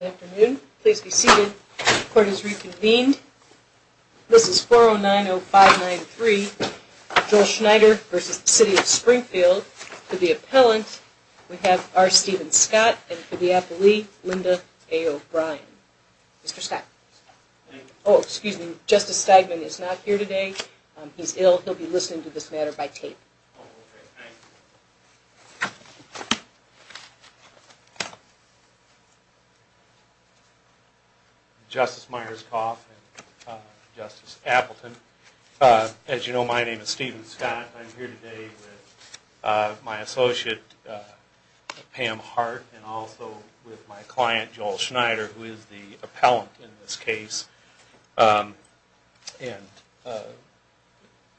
Good afternoon. Please be seated. Court is reconvened. This is 4090593, Joel Schneider v. The City of Springfield. To the appellant, we have R. Steven Scott and to the appellee, Linda A. O'Brien. Mr. Scott. Oh, excuse me. Justice Stegman is not here today. He's ill. He'll be listening to this matter by tape. Oh, okay. Thank you. Justice Myerscough and Justice Appleton, as you know, my name is Steven Scott. I'm here today with my associate, Pam Hart, and also with my client, Joel Schneider, who is the appellant in this case. And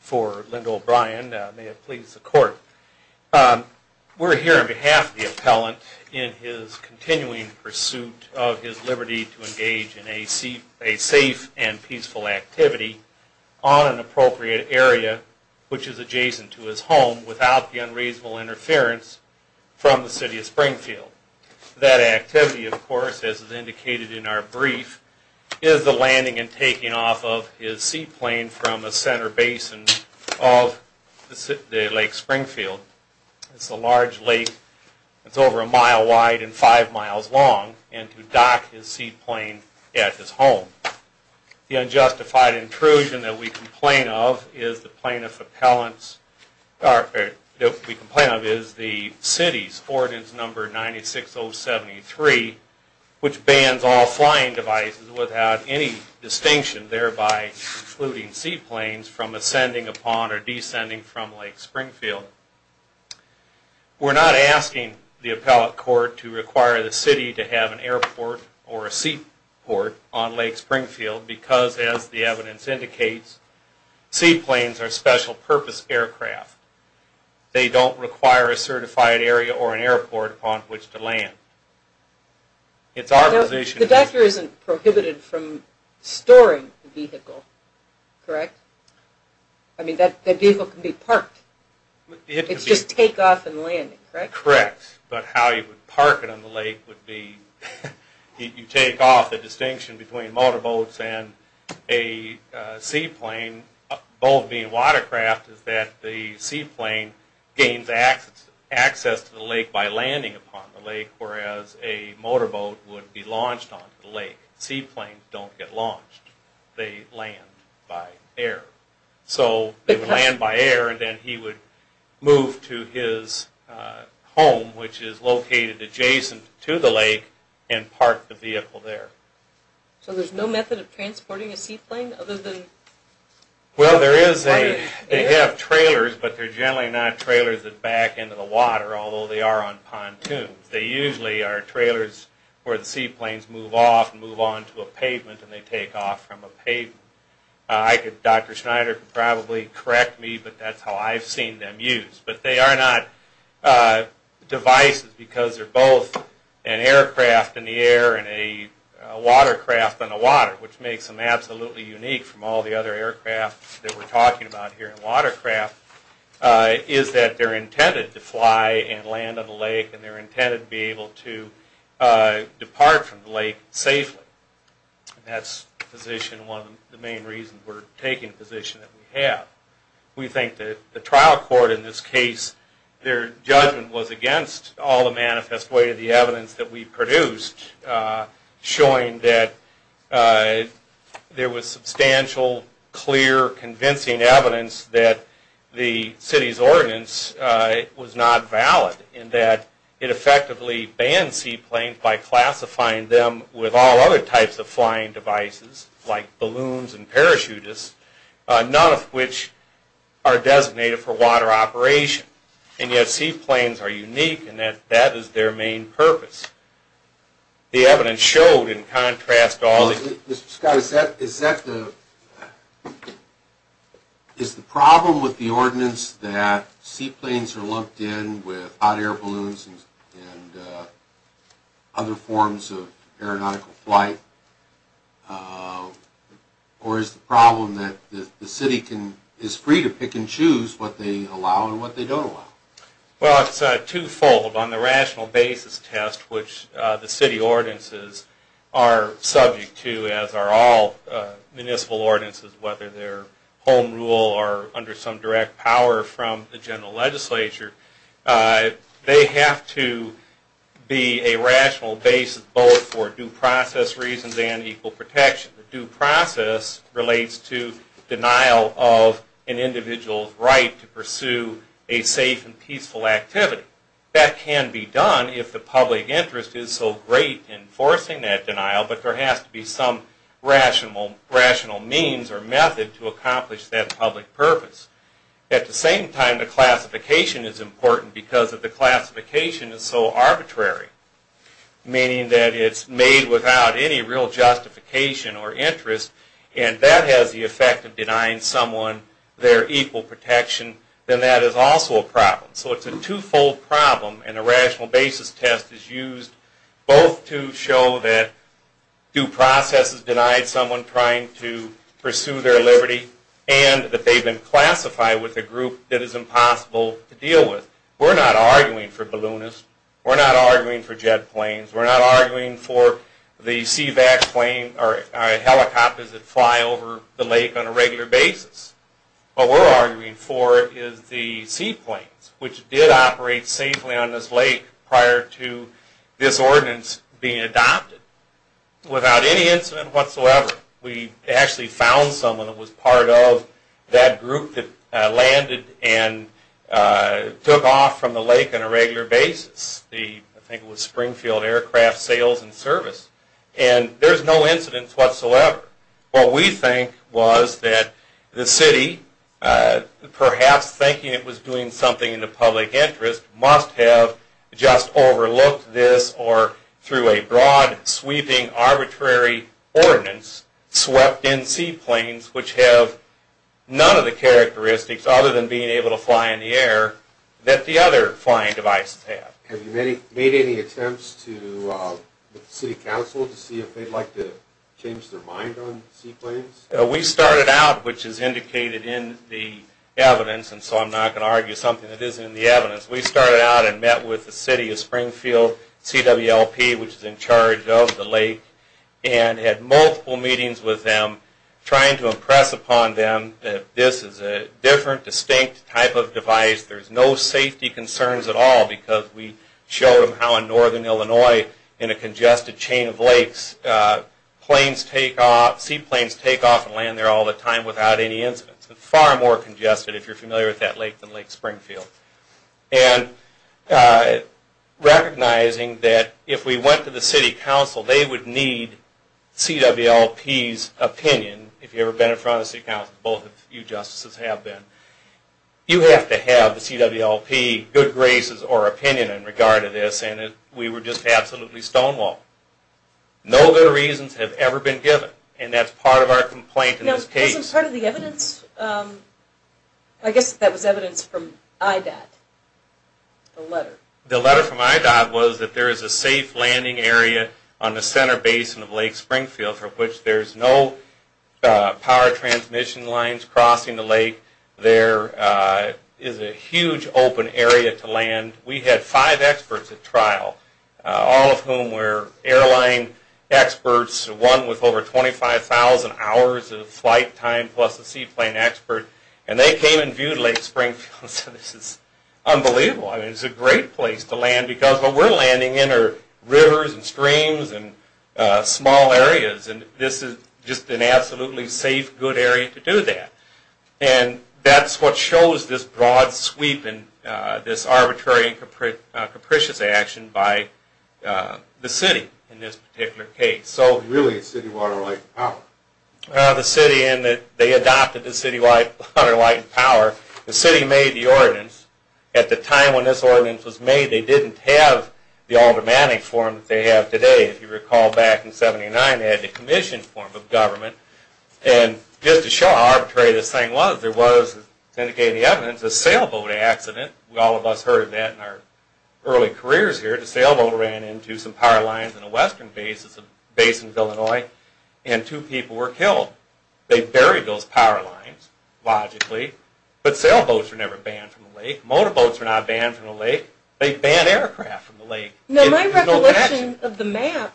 for Linda O'Brien, may it please the court, we're here on behalf of the appellant in his continuing pursuit of his liberty to engage in a safe and peaceful activity on an appropriate area, which is adjacent to his home, without the unreasonable interference from the City of Springfield. That activity, of course, as is indicated in our brief, is the landing and taking off of his seaplane from the center basin of Lake Springfield. It's a large lake. It's over a mile wide and five miles long, and to dock his seaplane at his home. The unjustified intrusion that we complain of is the City's Ordinance Number 96073, which bans all flying devices without any distinction, thereby excluding seaplanes from ascending upon or descending from Lake Springfield. We're not asking the appellate court to require the City to have an airport or a seaport on Lake Springfield, because as the evidence indicates, seaplanes are special purpose aircraft. They don't require a certified area or an airport upon which to land. The doctor isn't prohibited from storing the vehicle, correct? I mean, that vehicle can be parked. It's just take off and landing, correct? Correct, but how you would park it on the lake would be, you take off. The distinction between motorboats and a seaplane, both being watercraft, is that the seaplane gains access to the lake by landing upon the lake, whereas a motorboat would be launched onto the lake. Seaplanes don't get launched. They land by air. So they would land by air, and then he would move to his home, which is located adjacent to the lake, and park the vehicle there. So there's no method of transporting a seaplane other than... Well, there is a... they have trailers, but they're generally not trailers that back into the water, although they are on pontoons. They usually are trailers where the seaplanes move off and move onto a pavement, and they take off from a pavement. Dr. Schneider could probably correct me, but that's how I've seen them used. But they are not devices because they're both an aircraft in the air and a watercraft in the water, which makes them absolutely unique from all the other aircraft that we're talking about here. is that they're intended to fly and land on the lake, and they're intended to be able to depart from the lake safely. That's one of the main reasons we're taking the position that we have. We think that the trial court in this case, their judgment was against all the manifest way of the evidence that we produced, showing that there was substantial, clear, convincing evidence that the city's ordinance was not valid, in that it effectively banned seaplanes by classifying them with all other types of flying devices, like balloons and parachutists, none of which are designated for water operation. And yet, seaplanes are unique in that that is their main purpose. The evidence showed, in contrast to all the... Mr. Scott, is that the... Is the problem with the ordinance that seaplanes are locked in with hot air balloons and other forms of aeronautical flight, or is the problem that the city is free to pick and choose what they allow and what they don't allow? Well, it's twofold. On the rational basis test, which the city ordinances are subject to, as are all municipal ordinances, whether they're home rule or under some direct power from the general legislature, they have to be a rational basis both for due process reasons and equal protection. Due process relates to denial of an individual's right to pursue a safe and peaceful activity. That can be done if the public interest is so great in forcing that denial, but there has to be some rational means or method to accomplish that public purpose. At the same time, the classification is important because if the classification is so arbitrary, meaning that it's made without any real justification or interest, and that has the effect of denying someone their equal protection, then that is also a problem. So it's a twofold problem, and a rational basis test is used both to show that due process has denied someone trying to pursue their liberty, and that they've been classified with a group that is impossible to deal with. We're not arguing for balloonists. We're not arguing for jet planes. We're not arguing for the CVAC plane or helicopters that fly over the lake on a regular basis. What we're arguing for is the seaplanes, which did operate safely on this lake prior to this ordinance being adopted. Without any incident whatsoever, we actually found someone that was part of that group that landed and took off from the lake on a regular basis. I think it was Springfield Aircraft Sales and Service, and there's no incidents whatsoever. What we think was that the city, perhaps thinking it was doing something in the public interest, must have just overlooked this or, through a broad, sweeping, arbitrary ordinance, swept in seaplanes which have none of the characteristics, other than being able to fly in the air, that the other flying devices have. Have you made any attempts with the city council to see if they'd like to change their mind on seaplanes? We started out, which is indicated in the evidence, and so I'm not going to argue something that isn't in the evidence. We started out and met with the city of Springfield, CWLP, which is in charge of the lake, and had multiple meetings with them, trying to impress upon them that this is a different, distinct type of device. There's no safety concerns at all, because we showed them how in northern Illinois, in a congested chain of lakes, seaplanes take off and land there all the time without any incidents. Far more congested, if you're familiar with that lake, than Lake Springfield. And recognizing that if we went to the city council, they would need CWLP's opinion, if you've ever been in front of the city council, both of you justices have been. You have to have the CWLP good graces or opinion in regard to this, and we were just absolutely stonewalled. No good reasons have ever been given, and that's part of our complaint in this case. Wasn't part of the evidence, I guess that was evidence from IDOT, the letter. The letter from IDOT was that there is a safe landing area on the center basin of Lake Springfield, for which there's no power transmission lines crossing the lake. There is a huge open area to land. We had five experts at trial, all of whom were airline experts, one with over 25,000 hours of flight time plus a seaplane expert, and they came and viewed Lake Springfield, so this is unbelievable. It's a great place to land because what we're landing in are rivers and streams and small areas, and this is just an absolutely safe, good area to do that. And that's what shows this broad sweep and this arbitrary and capricious action by the city in this particular case. Really, it's City Water, Light, and Power. The city, and they adopted the City Water, Light, and Power. The city made the ordinance. At the time when this ordinance was made, they didn't have the Aldermanic form that they have today. If you recall back in 1979, they had the Commission form of government, and just to show how arbitrary this thing was, there was, as indicated in the evidence, a sailboat accident. All of us heard of that in our early careers here. The sailboat ran into some power lines in a western base, it's a base in Illinois, and two people were killed. They buried those power lines, logically, but sailboats were never banned from the lake. Motorboats were not banned from the lake. They banned aircraft from the lake. My recollection of the map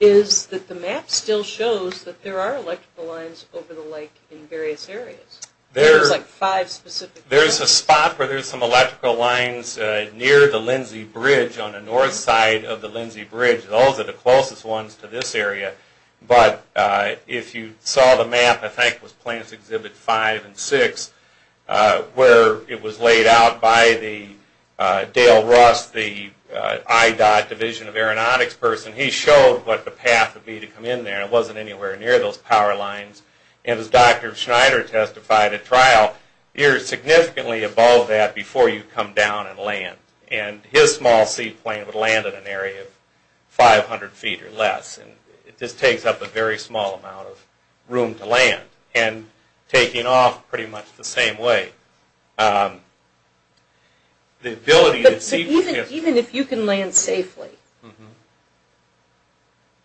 is that the map still shows that there are electrical lines over the lake in various areas. There's a spot where there's some electrical lines near the Lindsay Bridge on the north side of the Lindsay Bridge. Those are the closest ones to this area, but if you saw the map, I think it was Plants Exhibit 5 and 6, where it was laid out by Dale Russ, the IDOT, Division of Aeronautics person, he showed what the path would be to come in there. It wasn't anywhere near those power lines. And as Dr. Schneider testified at trial, you're significantly above that before you come down and land. And his small seaplane would land at an area of 500 feet or less, and it just takes up a very small amount of room to land, and taking off pretty much the same way. But even if you can land safely,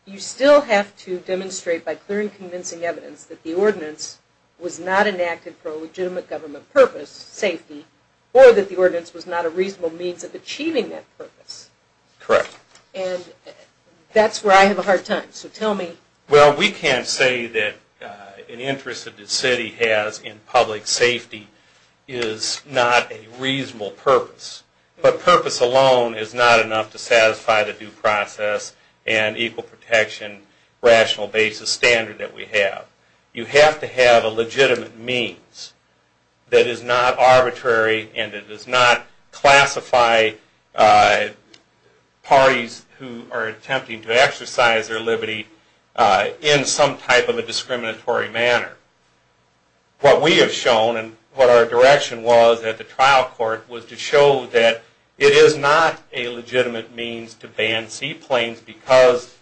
you still have to demonstrate by clearing convincing evidence that the ordinance was not enacted for a legitimate government purpose, safety, or that the ordinance was not a reasonable means of achieving that purpose. Correct. And that's where I have a hard time. Well, we can't say that an interest that the city has in public safety is not a reasonable purpose. But purpose alone is not enough to satisfy the due process and equal protection, rational basis standard that we have. You have to have a legitimate means that is not arbitrary, and that does not classify parties who are attempting to exercise their liberty in some type of a discriminatory manner. What we have shown, and what our direction was at the trial court, was to show that it is not a legitimate means to ban seaplanes because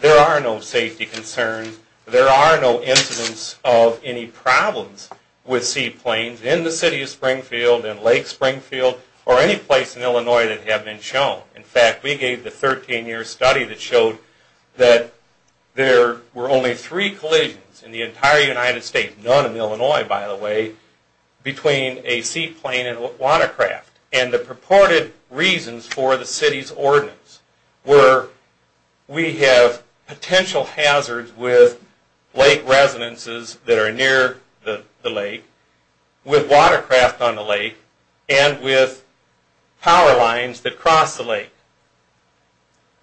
there are no safety concerns, and there are no incidents of any problems with seaplanes in the city of Springfield, in Lake Springfield, or any place in Illinois that have been shown. In fact, we gave the 13-year study that showed that there were only three collisions in the entire United States, none in Illinois by the way, between a seaplane and a watercraft. And the purported reasons for the city's ordinance were we have potential hazards with lake residences that are near the lake, with watercraft on the lake, and with power lines that cross the lake.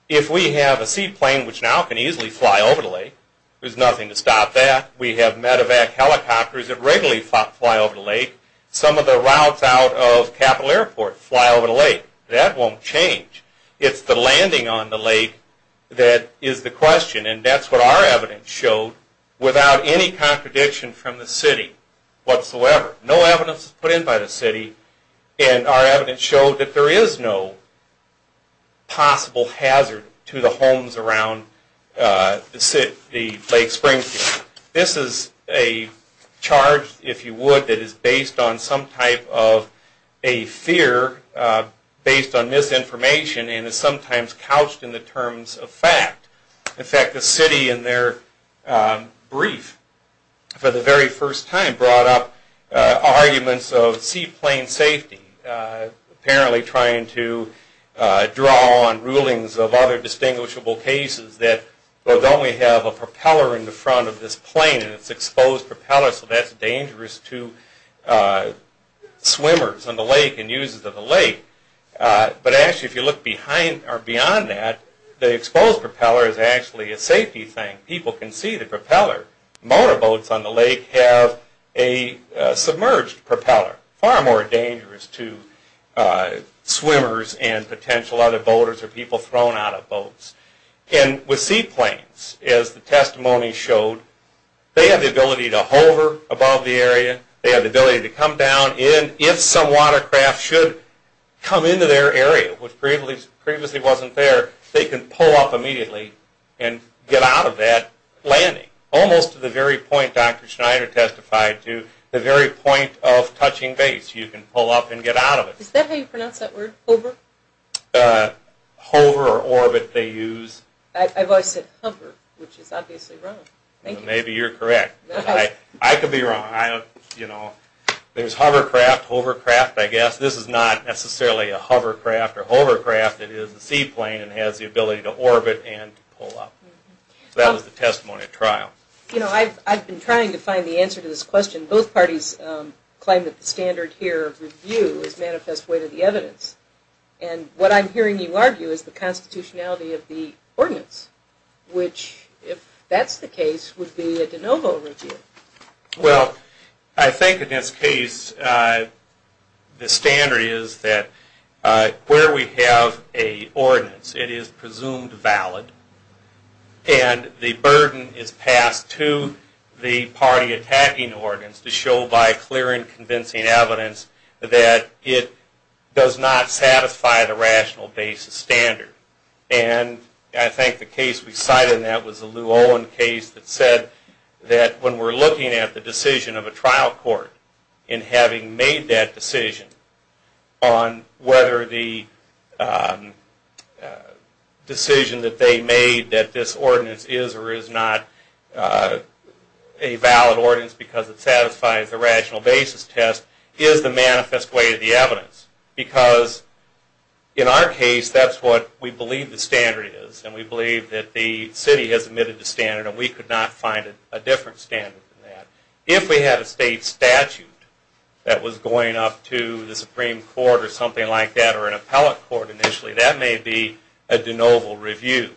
If we have a seaplane which now can easily fly over the lake, there's nothing to stop that. We have medevac helicopters that regularly fly over the lake. Some of the routes out of Capital Airport fly over the lake. That won't change. It's the landing on the lake that is the question, and that's what our evidence showed without any contradiction from the city whatsoever. No evidence was put in by the city, and our evidence showed that there is no possible hazard to the homes around the lake Springfield. This is a charge, if you would, that is based on some type of a fear based on misinformation and is sometimes couched in the terms of fact. In fact, the city in their brief for the very first time brought up arguments of seaplane safety, apparently trying to draw on rulings of other distinguishable cases that, well, don't we have a propeller in the front of this plane, and it's an exposed propeller, so that's dangerous to swimmers on the lake and users of the lake. But actually, if you look beyond that, the exposed propeller is actually a safety thing. People can see the propeller. Motorboats on the lake have a submerged propeller. Far more dangerous to swimmers and potential other boaters or people thrown out of boats. And with seaplanes, as the testimony showed, they have the ability to hover above the area, they have the ability to come down, and if some watercraft should come into their area, which previously wasn't there, they can pull up immediately and get out of that landing. Almost to the very point Dr. Schneider testified to, the very point of touching base, you can pull up and get out of it. Is that how you pronounce that word, hover? Hover or orbit they use. I've always said hover, which is obviously wrong. Maybe you're correct. I could be wrong. There's hovercraft, hovercraft, I guess. This is not necessarily a hovercraft or hovercraft. It is a seaplane and has the ability to orbit and pull up. That was the testimony at trial. I've been trying to find the answer to this question. Both parties claim that the standard here of review is manifest way to the evidence. And what I'm hearing you argue is the constitutionality of the ordinance, which, if that's the case, would be a de novo review. Well, I think in this case the standard is that where we have an ordinance, it is presumed valid, and the burden is passed to the party attacking ordinance to show by clearing convincing evidence that it does not satisfy the rational basis standard. And I think the case we cited in that was the Lew-Owen case that said that when we're looking at the decision of a trial court in having made that decision on whether the decision that they made that this ordinance is or is not a valid ordinance because it satisfies the rational basis test is the manifest way to the evidence. Because in our case, that's what we believe the standard is. And we believe that the city has omitted the standard, and we could not find a different standard than that. If we had a state statute that was going up to the Supreme Court or something like that or an appellate court initially, that may be a de novo review.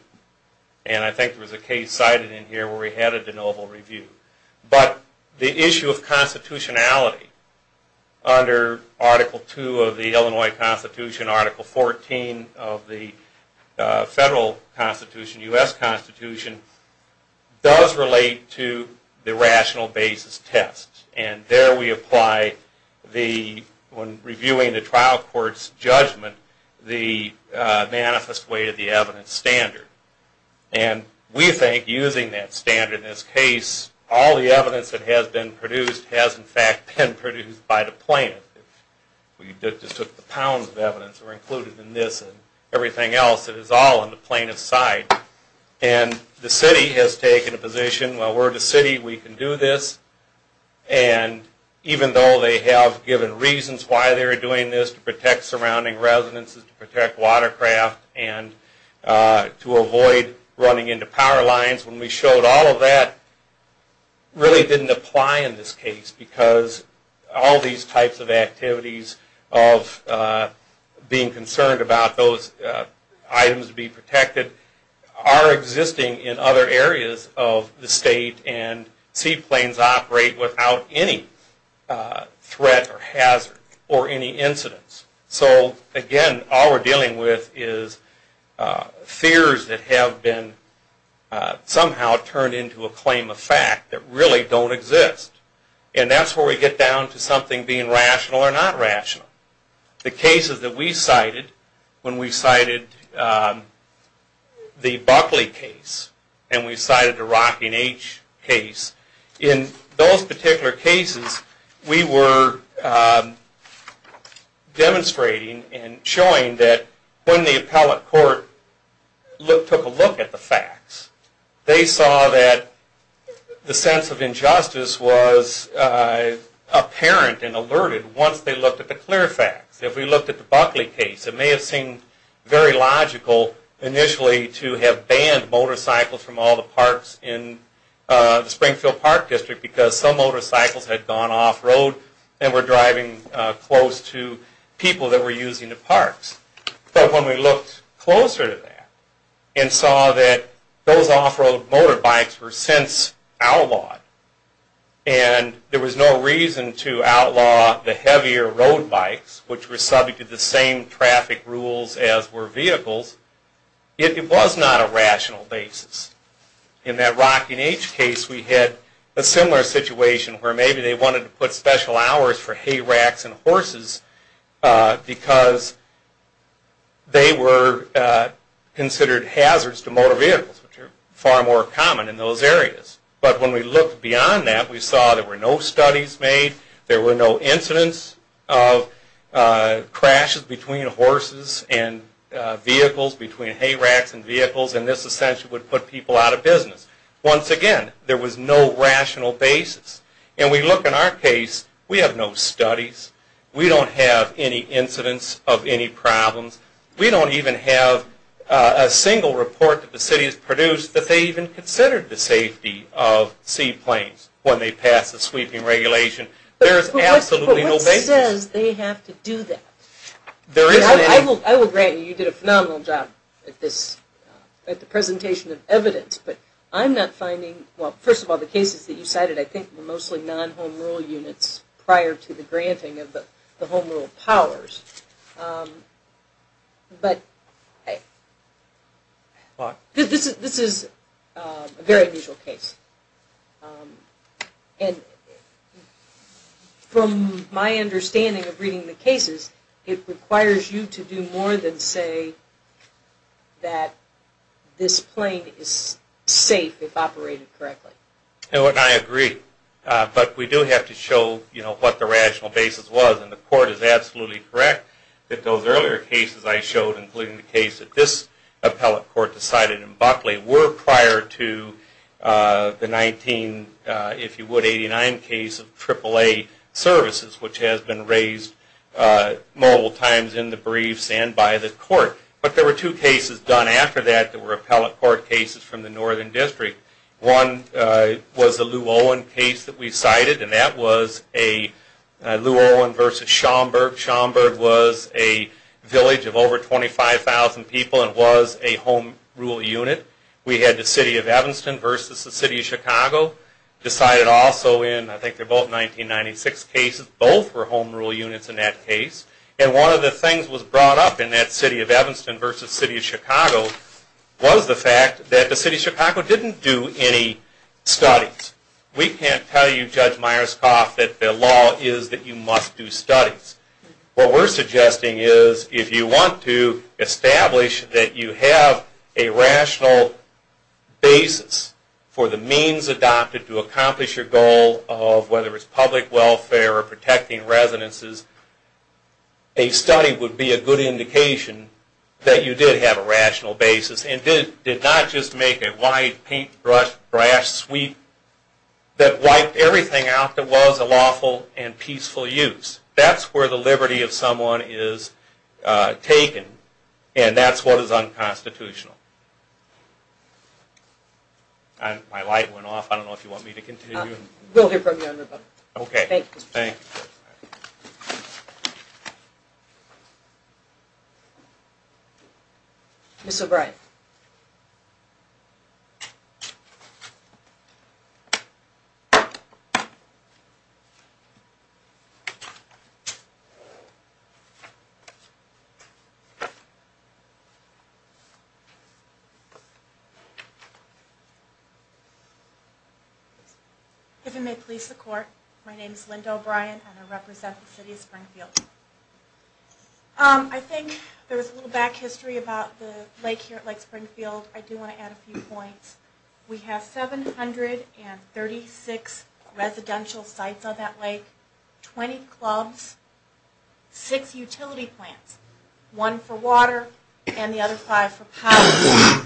And I think there was a case cited in here where we had a de novo review. But the issue of constitutionality under Article II of the Illinois Constitution, Article XIV of the Federal Constitution, U.S. Constitution, does relate to the rational basis test. And there we apply the, when reviewing the trial court's judgment, the manifest way to the evidence standard. And we think using that standard in this case, all the evidence that has been produced has in fact been produced by the plaintiff. We just took the pounds of evidence that were included in this and everything else that is all on the plaintiff's side. And the city has taken a position, well, we're the city, we can do this. And even though they have given reasons why they're doing this to protect surrounding residences, to protect watercraft, and to avoid running into power lines, when we showed all of that, really didn't apply in this case because all these types of activities of being concerned about those items being protected are existing in other areas of the state and seaplanes operate without any threat or hazard or any incidence. So again, all we're dealing with is fears that have been somehow turned into a claim of fact that really don't exist. And that's where we get down to something being rational or not rational. The cases that we cited, when we cited the Buckley case and we cited the Rocking H case, in those particular cases, we were demonstrating and showing that when the appellate court took a look at the facts, they saw that the sense of injustice was apparent and alerted once they looked at the clear facts. If we looked at the Buckley case, it may have seemed very logical initially to have banned motorcycles from all the parks in the Springfield Park District because some motorcycles had gone off-road and were driving close to people that were using the parks. But when we looked closer to that and saw that those off-road motorbikes were since outlawed and there was no reason to outlaw the heavier road bikes, which were subject to the same traffic rules as were vehicles, it was not a rational basis. In that Rocking H case, we had a similar situation where maybe they wanted to put special hours for hay racks and horses because they were considered hazards to motor vehicles, which are far more common in those areas. But when we looked beyond that, we saw there were no studies made, there were no incidents of crashes between horses and vehicles, between hay racks and vehicles, and this essentially would put people out of business. Once again, there was no rational basis. And we look in our case, we have no studies. We don't have any incidents of any problems. We don't even have a single report that the city has produced that they even considered the safety of seaplanes when they passed the sweeping regulation. There is absolutely no basis. But what says they have to do that? I will grant you, you did a phenomenal job at the presentation of evidence, but I'm not finding, well, first of all, the cases that you cited, I think were mostly non-home rule units prior to the granting of the home rule powers. But this is a very unusual case. And from my understanding of reading the cases, it requires you to do more than say that this plane is safe if operated correctly. And I agree. But we do have to show what the rational basis was, and the court is absolutely correct that those earlier cases I showed, including the case that this appellate court decided in Buckley, were prior to the 1989 case of AAA services, which has been raised multiple times in the briefs and by the court. But there were two cases done after that that were appellate court cases from the Northern District. One was the Lew Owen case that we cited, and that was Lew Owen versus Schomburg. Schomburg was a village of over 25,000 people and was a home rule unit. We had the City of Evanston versus the City of Chicago decided also in, I think they're both 1996 cases, both were home rule units in that case. And one of the things was brought up in that City of Evanston versus City of Chicago was the fact that the City of Chicago didn't do any studies. We can't tell you, Judge Myerscough, that the law is that you must do studies. What we're suggesting is if you want to establish that you have a rational basis for the means adopted to accomplish your goal of whether it's public welfare or protecting residences, a study would be a good indication that you did have a rational basis and did not just make a wide, paintbrush, brash sweep that wiped everything out that was a lawful and peaceful use. That's where the liberty of someone is taken, and that's what is unconstitutional. My light went off. I don't know if you want me to continue. We'll hear from you in a minute. Okay. Thank you. Ms. O'Brien. If you may please support. My name is Linda O'Brien, and I represent the City of Springfield. I think there was a little back history about the lake here at Lake Springfield. I do want to add a few points. We have 736 residential sites on that lake, 20 clubs, six utility plants, one for water and the other five for power.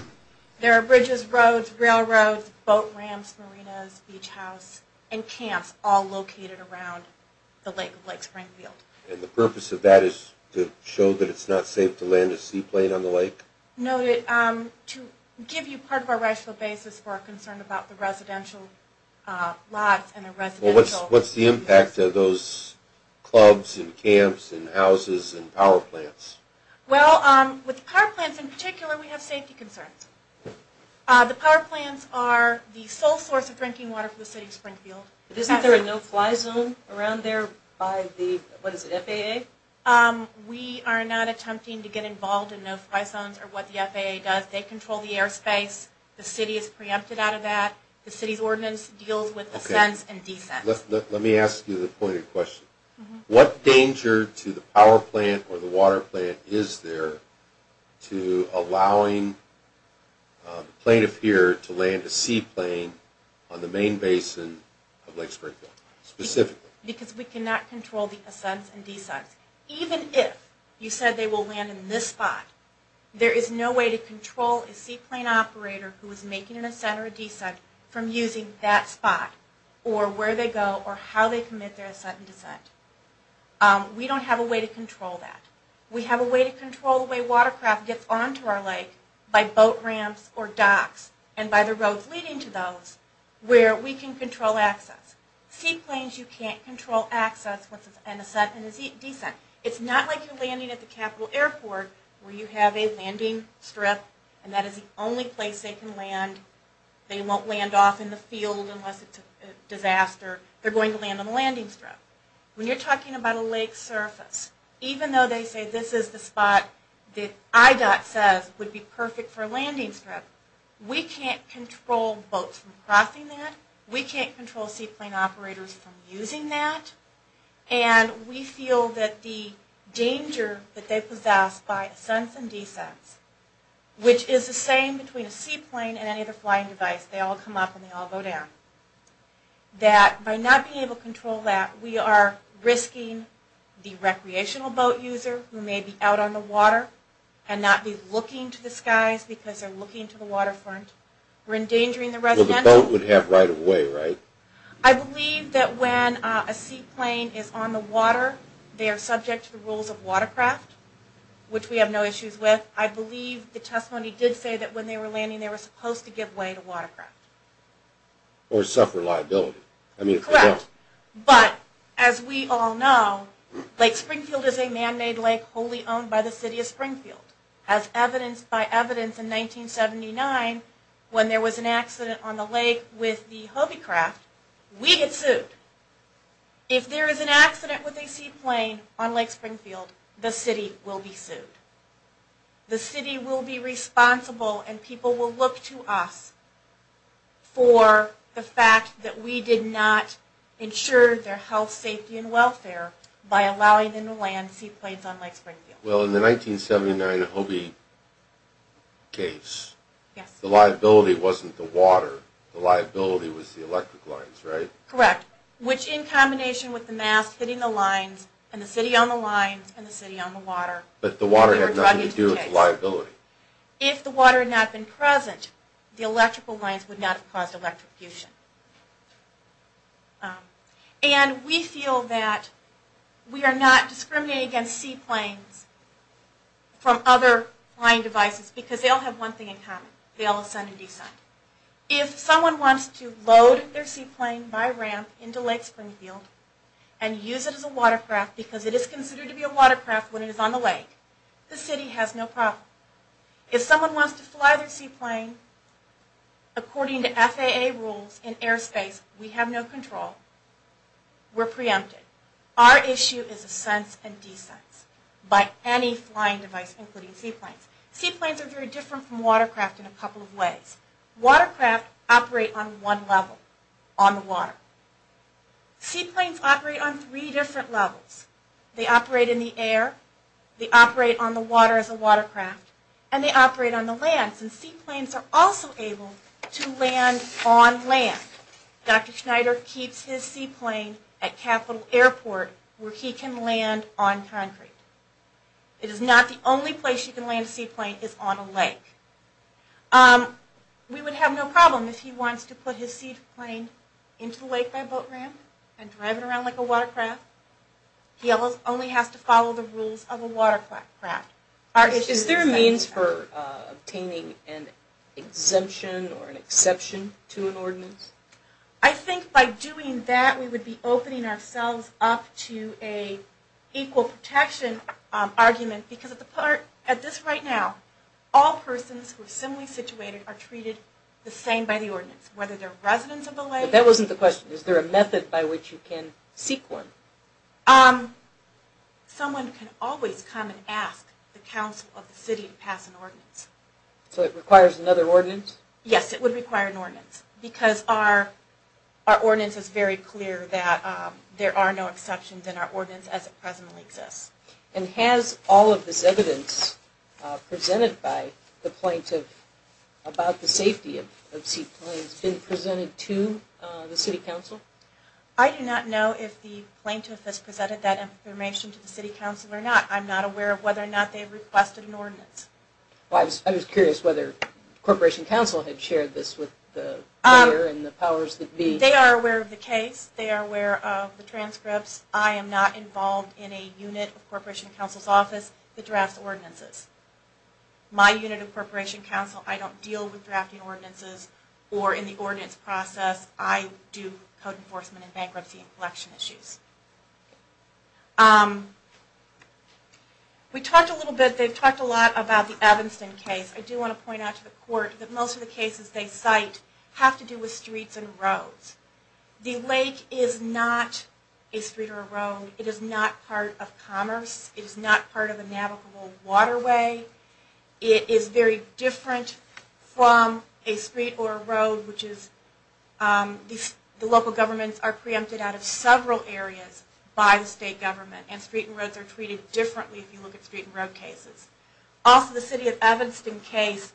There are bridges, roads, railroads, boat ramps, marinas, beach house, and camps all located around the lake of Lake Springfield. And the purpose of that is to show that it's not safe to land a seaplane on the lake? No, to give you part of our rational basis for our concern about the residential lots. What's the impact of those clubs and camps and houses and power plants? Well, with power plants in particular, we have safety concerns. The power plants are the sole source of drinking water for the City of Springfield. Isn't there a no-fly zone around there by the FAA? We are not attempting to get involved in no-fly zones or what the FAA does. They control the airspace. The City is preempted out of that. The City's ordinance deals with ascents and descents. Let me ask you the pointed question. What danger to the power plant or the water plant is there to allowing the plaintiff here to land a seaplane on the main basin of Lake Springfield, specifically? Because we cannot control the ascents and descents. Even if you said they will land in this spot, there is no way to control a seaplane operator who is making an ascent or a descent from using that spot or where they go or how they commit their ascent and descent. We don't have a way to control that. We have a way to control the way watercraft gets onto our lake by boat ramps or docks and by the roads leading to those where we can control access. Seaplanes you can't control access with an ascent and a descent. It's not like you're landing at the Capital Airport where you have a landing strip and that is the only place they can land. They won't land off in the field unless it's a disaster. They're going to land on the landing strip. When you're talking about a lake surface, even though they say this is the spot that IDOT says would be perfect for a landing strip, we can't control boats from crossing that. We can't control seaplane operators from using that. And we feel that the danger that they possess by ascents and descents, which is the same between a seaplane and any other flying device, they all come up and they all go down, that by not being able to control that, we are risking the recreational boat user who may be out on the water and not be looking to the skies because they're looking to the waterfront. So the boat would have right of way, right? I believe that when a seaplane is on the water, they are subject to the rules of watercraft, which we have no issues with. I believe the testimony did say that when they were landing they were supposed to give way to watercraft. Or suffer liability. Correct. But as we all know, Lake Springfield is a man-made lake wholly owned by the City of Springfield. As evidenced by evidence in 1979, when there was an accident on the lake with the HOBY craft, we get sued. If there is an accident with a seaplane on Lake Springfield, the city will be sued. The city will be responsible and people will look to us for the fact that we did not ensure their health, safety, and welfare by allowing them to land seaplanes on Lake Springfield. Well, in the 1979 HOBY case, the liability wasn't the water. The liability was the electric lines, right? Correct. Which, in combination with the mast hitting the lines, and the city on the lines, and the city on the water, had nothing to do with the liability. If the water had not been present, the electrical lines would not have caused electrocution. And we feel that we are not discriminating against seaplanes from other flying devices because they all have one thing in common. They all ascend and descend. If someone wants to load their seaplane by ramp into Lake Springfield and use it as a watercraft because it is considered to be a watercraft when it is on the lake, the city has no problem. If someone wants to fly their seaplane according to FAA rules in airspace, we have no control. We're preempted. Our issue is ascents and descents by any flying device, including seaplanes. Seaplanes are very different from watercraft in a couple of ways. Watercraft operate on one level, on the water. Seaplanes operate on three different levels. They operate in the air, they operate on the water as a watercraft, and they operate on the land. Seaplanes are also able to land on land. Dr. Schneider keeps his seaplane at Capital Airport where he can land on concrete. It is not the only place you can land a seaplane is on a lake. We would have no problem if he wants to put his seaplane into the lake by boat ramp and drive it around like a watercraft. He only has to follow the rules of a watercraft. Is there a means for obtaining an exemption or an exception to an ordinance? I think by doing that, we would be opening ourselves up to an equal protection argument. Because at this right now, all persons who are similarly situated are treated the same by the ordinance, whether they're residents of the lake... But that wasn't the question. Is there a method by which you can seek one? Someone can always come and ask the council of the city to pass an ordinance. So it requires another ordinance? Yes, it would require an ordinance. Because our ordinance is very clear that there are no exceptions in our ordinance as it presently exists. And has all of this evidence presented by the plaintiff about the safety of seaplanes been presented to the city council? I do not know if the plaintiff has presented that information to the city council or not. I'm not aware of whether or not they've requested an ordinance. I was curious whether Corporation Council had shared this with the mayor and the powers that be. They are aware of the case. They are aware of the transcripts. I am not involved in a unit of Corporation Council's office that drafts ordinances. My unit of Corporation Council, I don't deal with drafting ordinances or in the ordinance process, I do code enforcement and bankruptcy and collection issues. We talked a little bit, they've talked a lot about the Evanston case. I do want to point out to the court that most of the cases they cite have to do with streets and roads. The lake is not a street or a road. It is not part of commerce. It is not part of a navigable waterway. It is very different from a street or a road, which is, the local governments are preempted out of several areas by the state government. And street and roads are treated differently if you look at street and road cases. Also, the city of Evanston case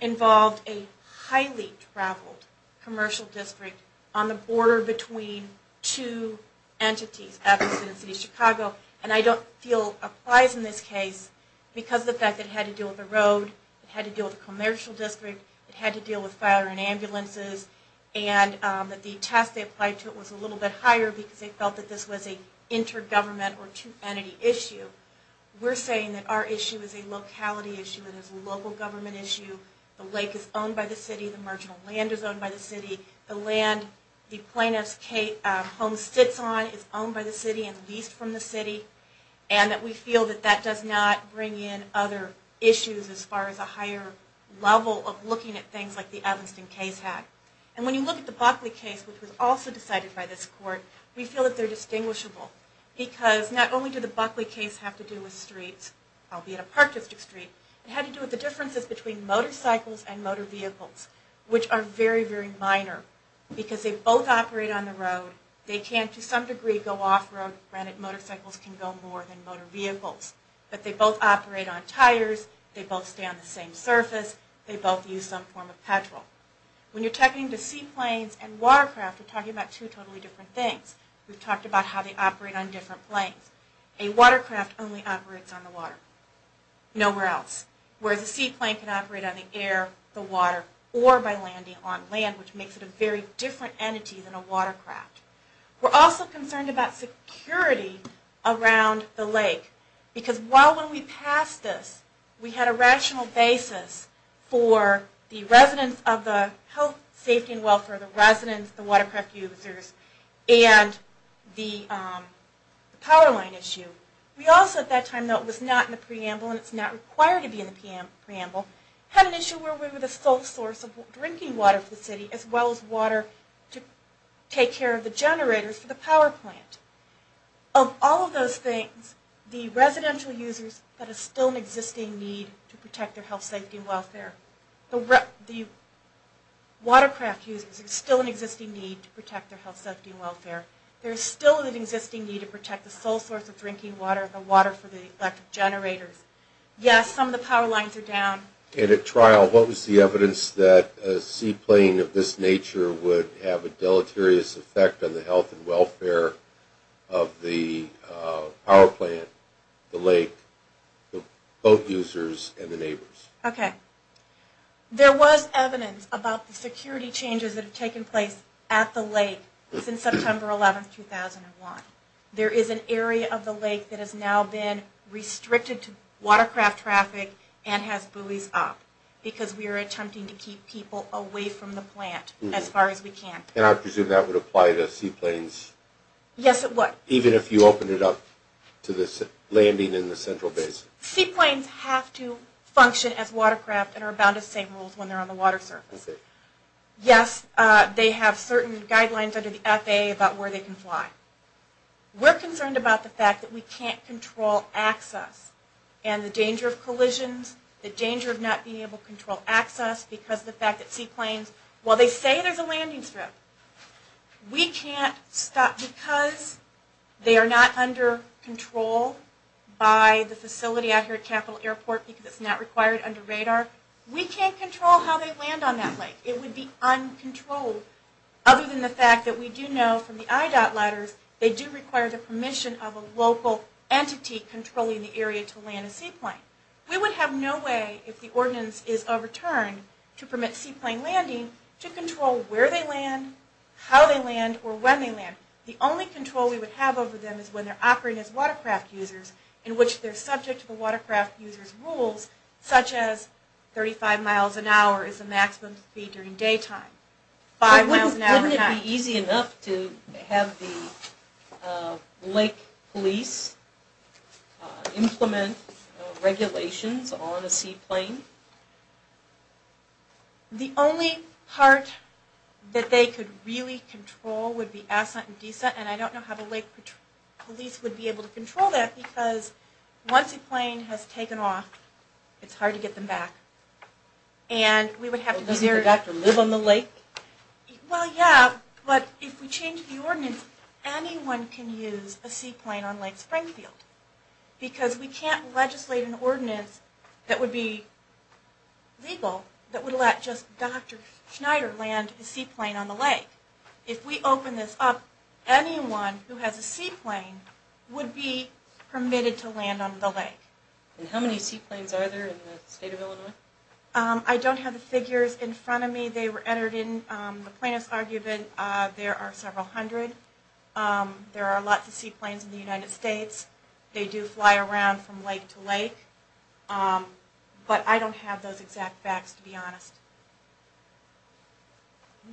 involved a highly traveled commercial district on the border between two entities, Evanston and the city of Chicago. And I don't feel applies in this case because of the fact that it had to do with the road, it had to do with the commercial district, it had to deal with fire and ambulances, and that the test they applied to it was a little bit higher because they felt that this was an inter-government or two-entity issue. We're saying that our issue is a locality issue. It is a local government issue. The lake is owned by the city. The marginal land is owned by the city. The land the plaintiff's home sits on is owned by the city and leased from the city. And that we feel that that does not bring in other issues as far as a higher level of looking at things like the Evanston case had. And when you look at the Buckley case, which was also decided by this court, we feel that they're distinguishable because not only did the Buckley case have to do with streets, albeit a park district street, it had to do with the differences between motorcycles and motor vehicles, which are very, very minor because they both operate on the road. They can, to some degree, go off-road, granted motorcycles can go more than motor vehicles, but they both operate on tires, they both stay on the same surface, they both use some form of petrol. When you're talking to seaplanes and watercraft, you're talking about two totally different things. We've talked about how they operate on different planes. A watercraft only operates on the water, nowhere else. Whereas a seaplane can operate on the air, the water, or by landing on land, which makes it a very different entity than a watercraft. We're also concerned about security around the lake. Because while when we passed this, we had a rational basis for the residents of the Health, Safety, and Welfare, the residents, the watercraft users, and the power line issue. We also, at that time, though it was not in the preamble, and it's not required to be in the preamble, had an issue where we were the sole source of drinking water for the city, as well as water to take care of the generators for the power plant. Of all of those things, the residential users, there's still an existing need to protect their health, safety, and welfare. The watercraft users, there's still an existing need to protect their health, safety, and welfare. There's still an existing need to protect the sole source of drinking water, the water for the electric generators. Yes, some of the power lines are down. And at trial, what was the evidence that a seaplane of this nature would have a deleterious effect on the health and welfare of the power plant, the lake, the boat users, and the neighbors? Okay. There was evidence about the security changes that have taken place at the lake since September 11, 2001. There is an area of the lake that has now been restricted to watercraft traffic and has buoys up, because we are attempting to keep people away from the plant as far as we can. And I presume that would apply to seaplanes? Yes, it would. Even if you opened it up to the landing in the central basin? Seaplanes have to function as watercraft and are bound to same rules when they're on the water surface. Yes, they have certain guidelines under the FAA about where they can fly. We're concerned about the fact that we can't control access and the danger of collisions, the danger of not being able to control access because of the fact that seaplanes, while they say there's a landing strip, we can't stop because they are not under control by the facility out here at Capital Airport because it's not required under radar. We can't control how they land on that lake. It would be uncontrolled. Other than the fact that we do know from the IDOT letters, they do require the permission of a local entity controlling the area to land a seaplane. We would have no way, if the ordinance is overturned, to permit seaplane landing, to control where they land, how they land, or when they land. The only control we would have over them is when they're operating as watercraft users in which they're subject to the watercraft user's rules, such as 35 miles an hour is the maximum speed during daytime, 5 miles an hour at night. Wouldn't it be easy enough to have the lake police implement regulations on a seaplane? The only part that they could really control would be ascent and descent, and I don't know how the lake police would be able to control that because once a plane has taken off, it's hard to get them back. Doesn't the doctor live on the lake? Well, yeah, but if we change the ordinance, anyone can use a seaplane on Lake Springfield because we can't legislate an ordinance that would be legal that would let just Dr. Schneider land a seaplane on the lake. If we open this up, anyone who has a seaplane would be permitted to land on the lake. And how many seaplanes are there in the state of Illinois? I don't have the figures in front of me. They were entered in the plaintiff's argument. There are several hundred. There are lots of seaplanes in the United States. They do fly around from lake to lake. But I don't have those exact facts, to be honest.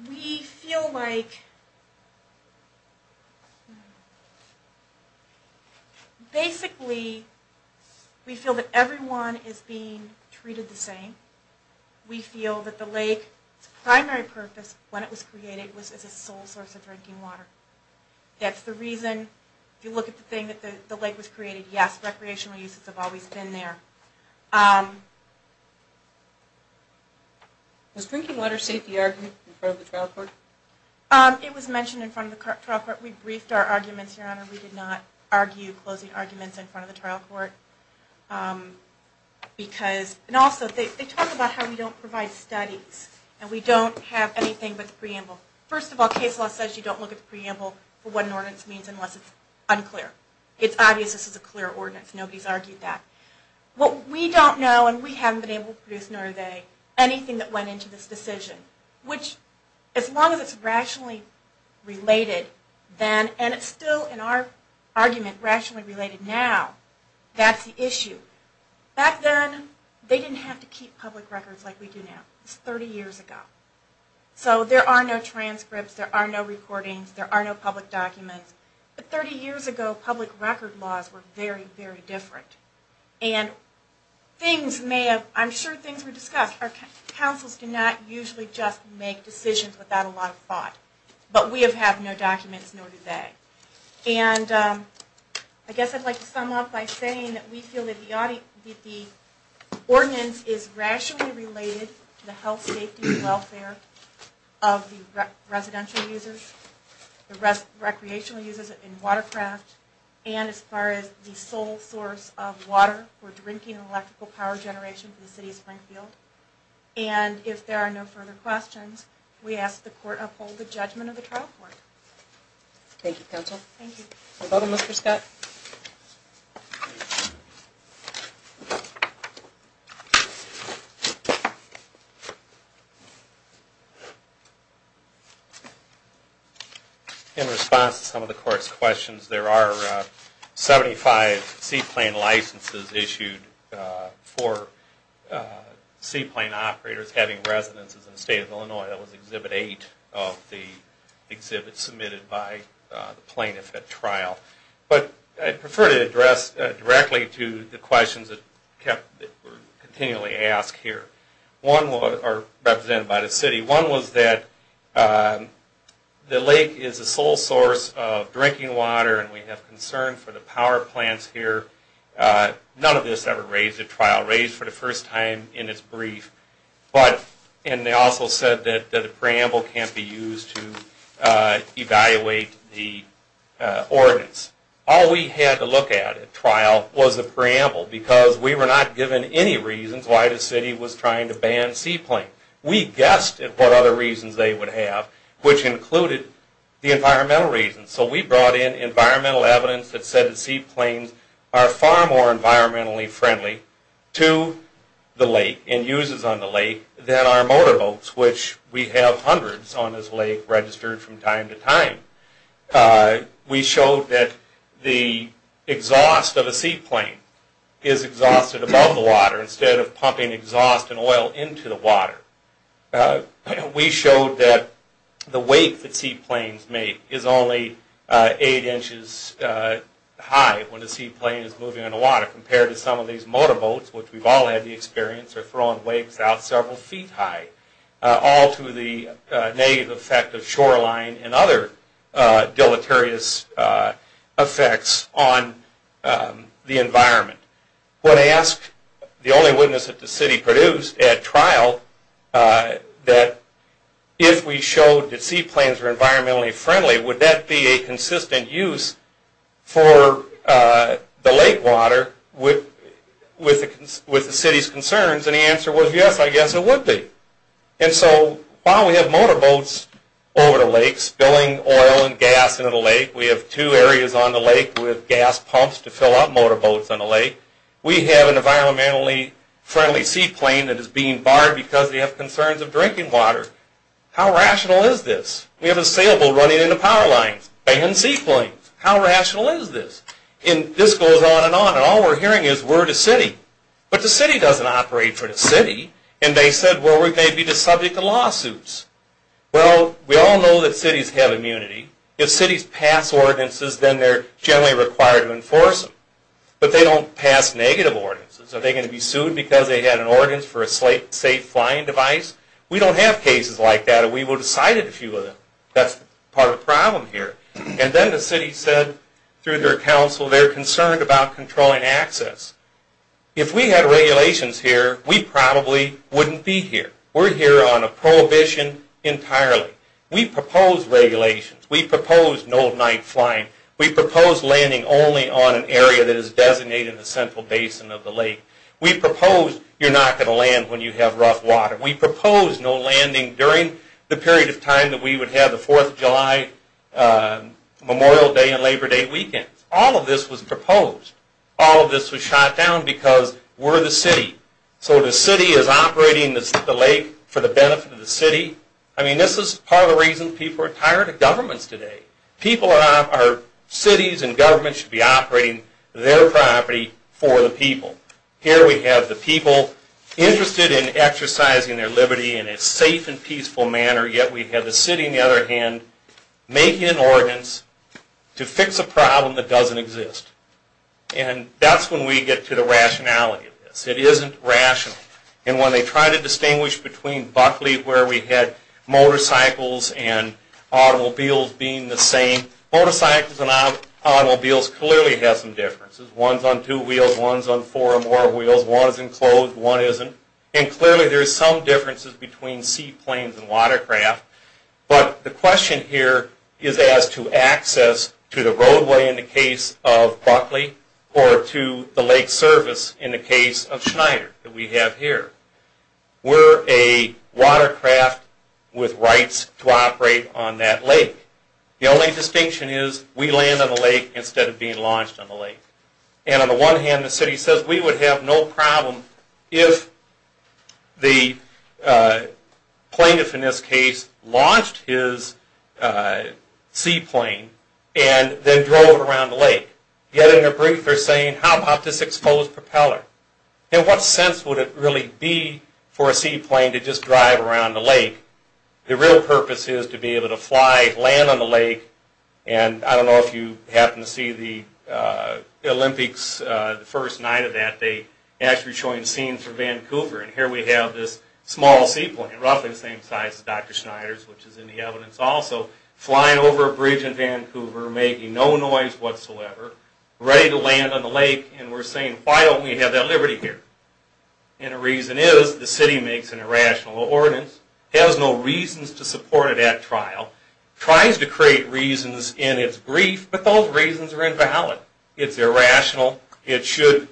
We feel like, basically, we feel that everyone is being treated the same. We feel that the lake's primary purpose, when it was created, was as a sole source of drinking water. That's the reason, if you look at the thing that the lake was created, yes, recreational uses have always been there. Does drinking water state the argument in front of the trial court? It was mentioned in front of the trial court. We briefed our arguments, Your Honor. We did not argue closing arguments in front of the trial court. Also, they talk about how we don't provide studies, and we don't have anything but the preamble. First of all, case law says you don't look at the preamble for what an ordinance means unless it's unclear. It's obvious this is a clear ordinance. Nobody's argued that. What we don't know, and we haven't been able to produce, nor are they, anything that went into this decision, which, as long as it's rationally related, and it's still, in our argument, rationally related now, that's the issue. Back then, they didn't have to keep public records like we do now. It's 30 years ago. So there are no transcripts. There are no recordings. There are no public documents. But 30 years ago, public record laws were very, very different. And I'm sure things were discussed. Our counsels do not usually just make decisions without a lot of thought. But we have had no documents, nor do they. And I guess I'd like to sum up by saying that we feel that the ordinance is rationally related to the health, safety, and welfare of the residential users, the recreational users in watercraft, and as far as the sole source of water for drinking and electrical power generation for the city of Springfield. And if there are no further questions, we ask the court uphold the judgment of the trial court. Thank you, counsel. No problem, Mr. Scott. In response to some of the court's questions, there are 75 seaplane licenses issued for seaplane operators having residences in the state of Illinois. That was Exhibit 8 of the exhibits submitted by the plaintiff at trial. But I'd prefer to address directly to the questions that were continually asked here, represented by the city. One was that the lake is the sole source of drinking water, and we have concern for the power plants here. None of this ever raised at trial, raised for the first time in its brief. And they also said that a preamble can't be used to evaluate the ordinance. All we had to look at at trial was a preamble, because we were not given any reasons why the city was trying to ban seaplanes. We guessed at what other reasons they would have, which included the environmental reasons. So we brought in environmental evidence that said the seaplanes are far more environmentally friendly to the lake and uses on the lake than our motorboats, which we have hundreds on this lake registered from time to time. We showed that the exhaust of a seaplane is exhausted above the water instead of pumping exhaust and oil into the water. We showed that the weight that seaplanes make is only 8 inches high when a seaplane is moving on the water, compared to some of these motorboats, which we've all had the experience of throwing waves out several feet high, all to the negative effect of shoreline and other deleterious effects on the environment. When I asked the only witness that the city produced at trial that if we showed that seaplanes were environmentally friendly, would that be a consistent use for the lake water with the city's concerns? And the answer was yes, I guess it would be. So while we have motorboats over the lake spilling oil and gas into the lake, we have two areas on the lake with gas pumps to fill up motorboats on the lake, we have an environmentally friendly seaplane that is being barred because they have concerns of drinking water. How rational is this? We have a sailboat running into power lines, banning seaplanes. How rational is this? And this goes on and on, and all we're hearing is, we're the city. But the city doesn't operate for the city. And they said, well, we may be the subject of lawsuits. Well, we all know that cities have immunity. If cities pass ordinances, then they're generally required to enforce them. But they don't pass negative ordinances. Are they going to be sued because they had an ordinance for a safe flying device? We don't have cases like that, and we would have cited a few of them. That's part of the problem here. And then the city said, through their council, they're concerned about controlling access. If we had regulations here, we probably wouldn't be here. We're here on a prohibition entirely. We proposed regulations. We proposed no night flying. We proposed landing only on an area that is designated the central basin of the lake. We proposed you're not going to land when you have rough water. We proposed no landing during the period of time that we would have the 4th of July Memorial Day and Labor Day weekend. All of this was proposed. All of this was shot down because we're the city. So the city is operating the lake for the benefit of the city. I mean, this is part of the reason people are tired of governments today. Cities and governments should be operating their property for the people. Here we have the people interested in exercising their liberty in a safe and peaceful manner, yet we have the city, on the other hand, making an ordinance to fix a problem that doesn't exist. And that's when we get to the rationality of this. It isn't rational. And when they try to distinguish between Buckley, where we had motorcycles and automobiles being the same, motorcycles and automobiles clearly have some differences. One's on two wheels, one's on four or more wheels, one's enclosed, one isn't. And clearly there's some differences between seaplanes and watercraft. But the question here is as to access to the roadway in the case of Buckley or to the lake service in the case of Schneider that we have here. We're a watercraft with rights to operate on that lake. The only distinction is we land on the lake instead of being launched on the lake. And on the one hand the city says we would have no problem if the plaintiff in this case launched his seaplane and then drove around the lake. Yet in their brief they're saying how about this exposed propeller? In what sense would it really be for a seaplane to just drive around the lake? The real purpose is to be able to fly, land on the lake. And I don't know if you happen to see the Olympics the first night of that. They actually showing scenes from Vancouver. And here we have this small seaplane, roughly the same size as Dr. Schneider's, which is in the evidence also, flying over a bridge in Vancouver making no noise whatsoever, ready to land on the lake. And we're saying why don't we have that liberty here? And the reason is the city makes an irrational ordinance, has no reasons to support it at trial, tries to create reasons in its brief, but those reasons are invalid. It's irrational, it should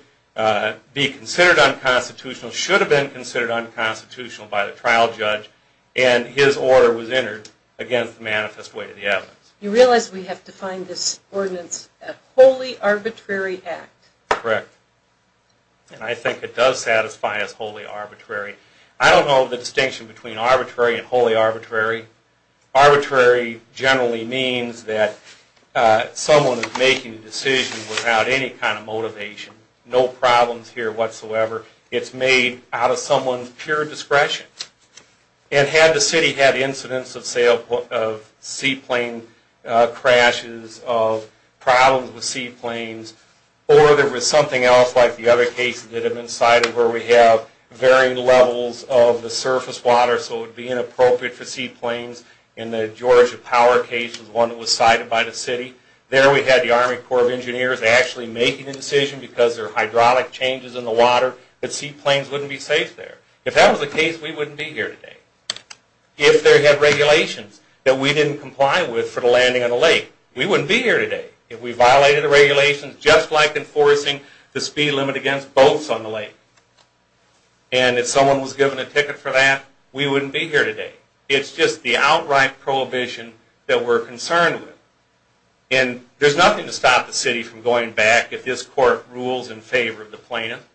be considered unconstitutional, should have been considered unconstitutional by the trial judge, and his order was entered against the manifest way to the evidence. You realize we have to find this ordinance a wholly arbitrary act. Correct. And I think it does satisfy as wholly arbitrary. I don't know the distinction between arbitrary and wholly arbitrary. Arbitrary generally means that someone is making a decision without any kind of motivation. No problems here whatsoever. It's made out of someone's pure discretion. And had the city had incidents of seaplane crashes, of problems with seaplanes, or there was something else like the other cases that have been cited where we have varying levels of the surface water so it would be inappropriate for seaplanes, and the Georgia Power case was one that was cited by the city. There we had the Army Corps of Engineers actually making a decision because there are hydraulic changes in the water that seaplanes wouldn't be safe there. If that was the case, we wouldn't be here today. If there had been regulations that we didn't comply with for the landing on the lake, we wouldn't be here today. If we violated the regulations, just like enforcing the speed limit against boats on the lake, and if someone was given a ticket for that, we wouldn't be here today. It's just the outright prohibition that we're concerned with. And there's nothing to stop the city from going back if this court rules in favor of the plaintiff.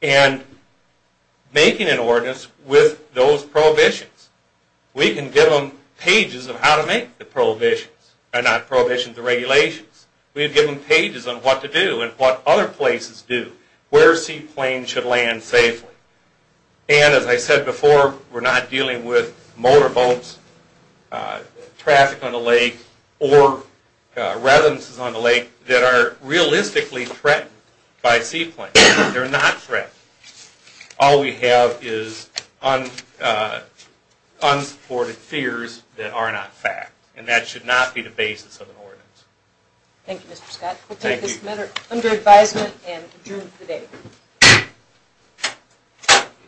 And making an ordinance with those prohibitions, we can give them pages on how to make the prohibitions, not prohibitions, the regulations. We can give them pages on what to do and what other places do, where seaplanes should land safely. And as I said before, we're not dealing with motor boats, traffic on the lake, or residences on the lake that are realistically threatened by seaplanes. They're not threatened. All we have is unsupported fears that are not fact. And that should not be the basis of an ordinance. Thank you, Mr. Scott. We'll take this matter under advisement and adjourn for the day.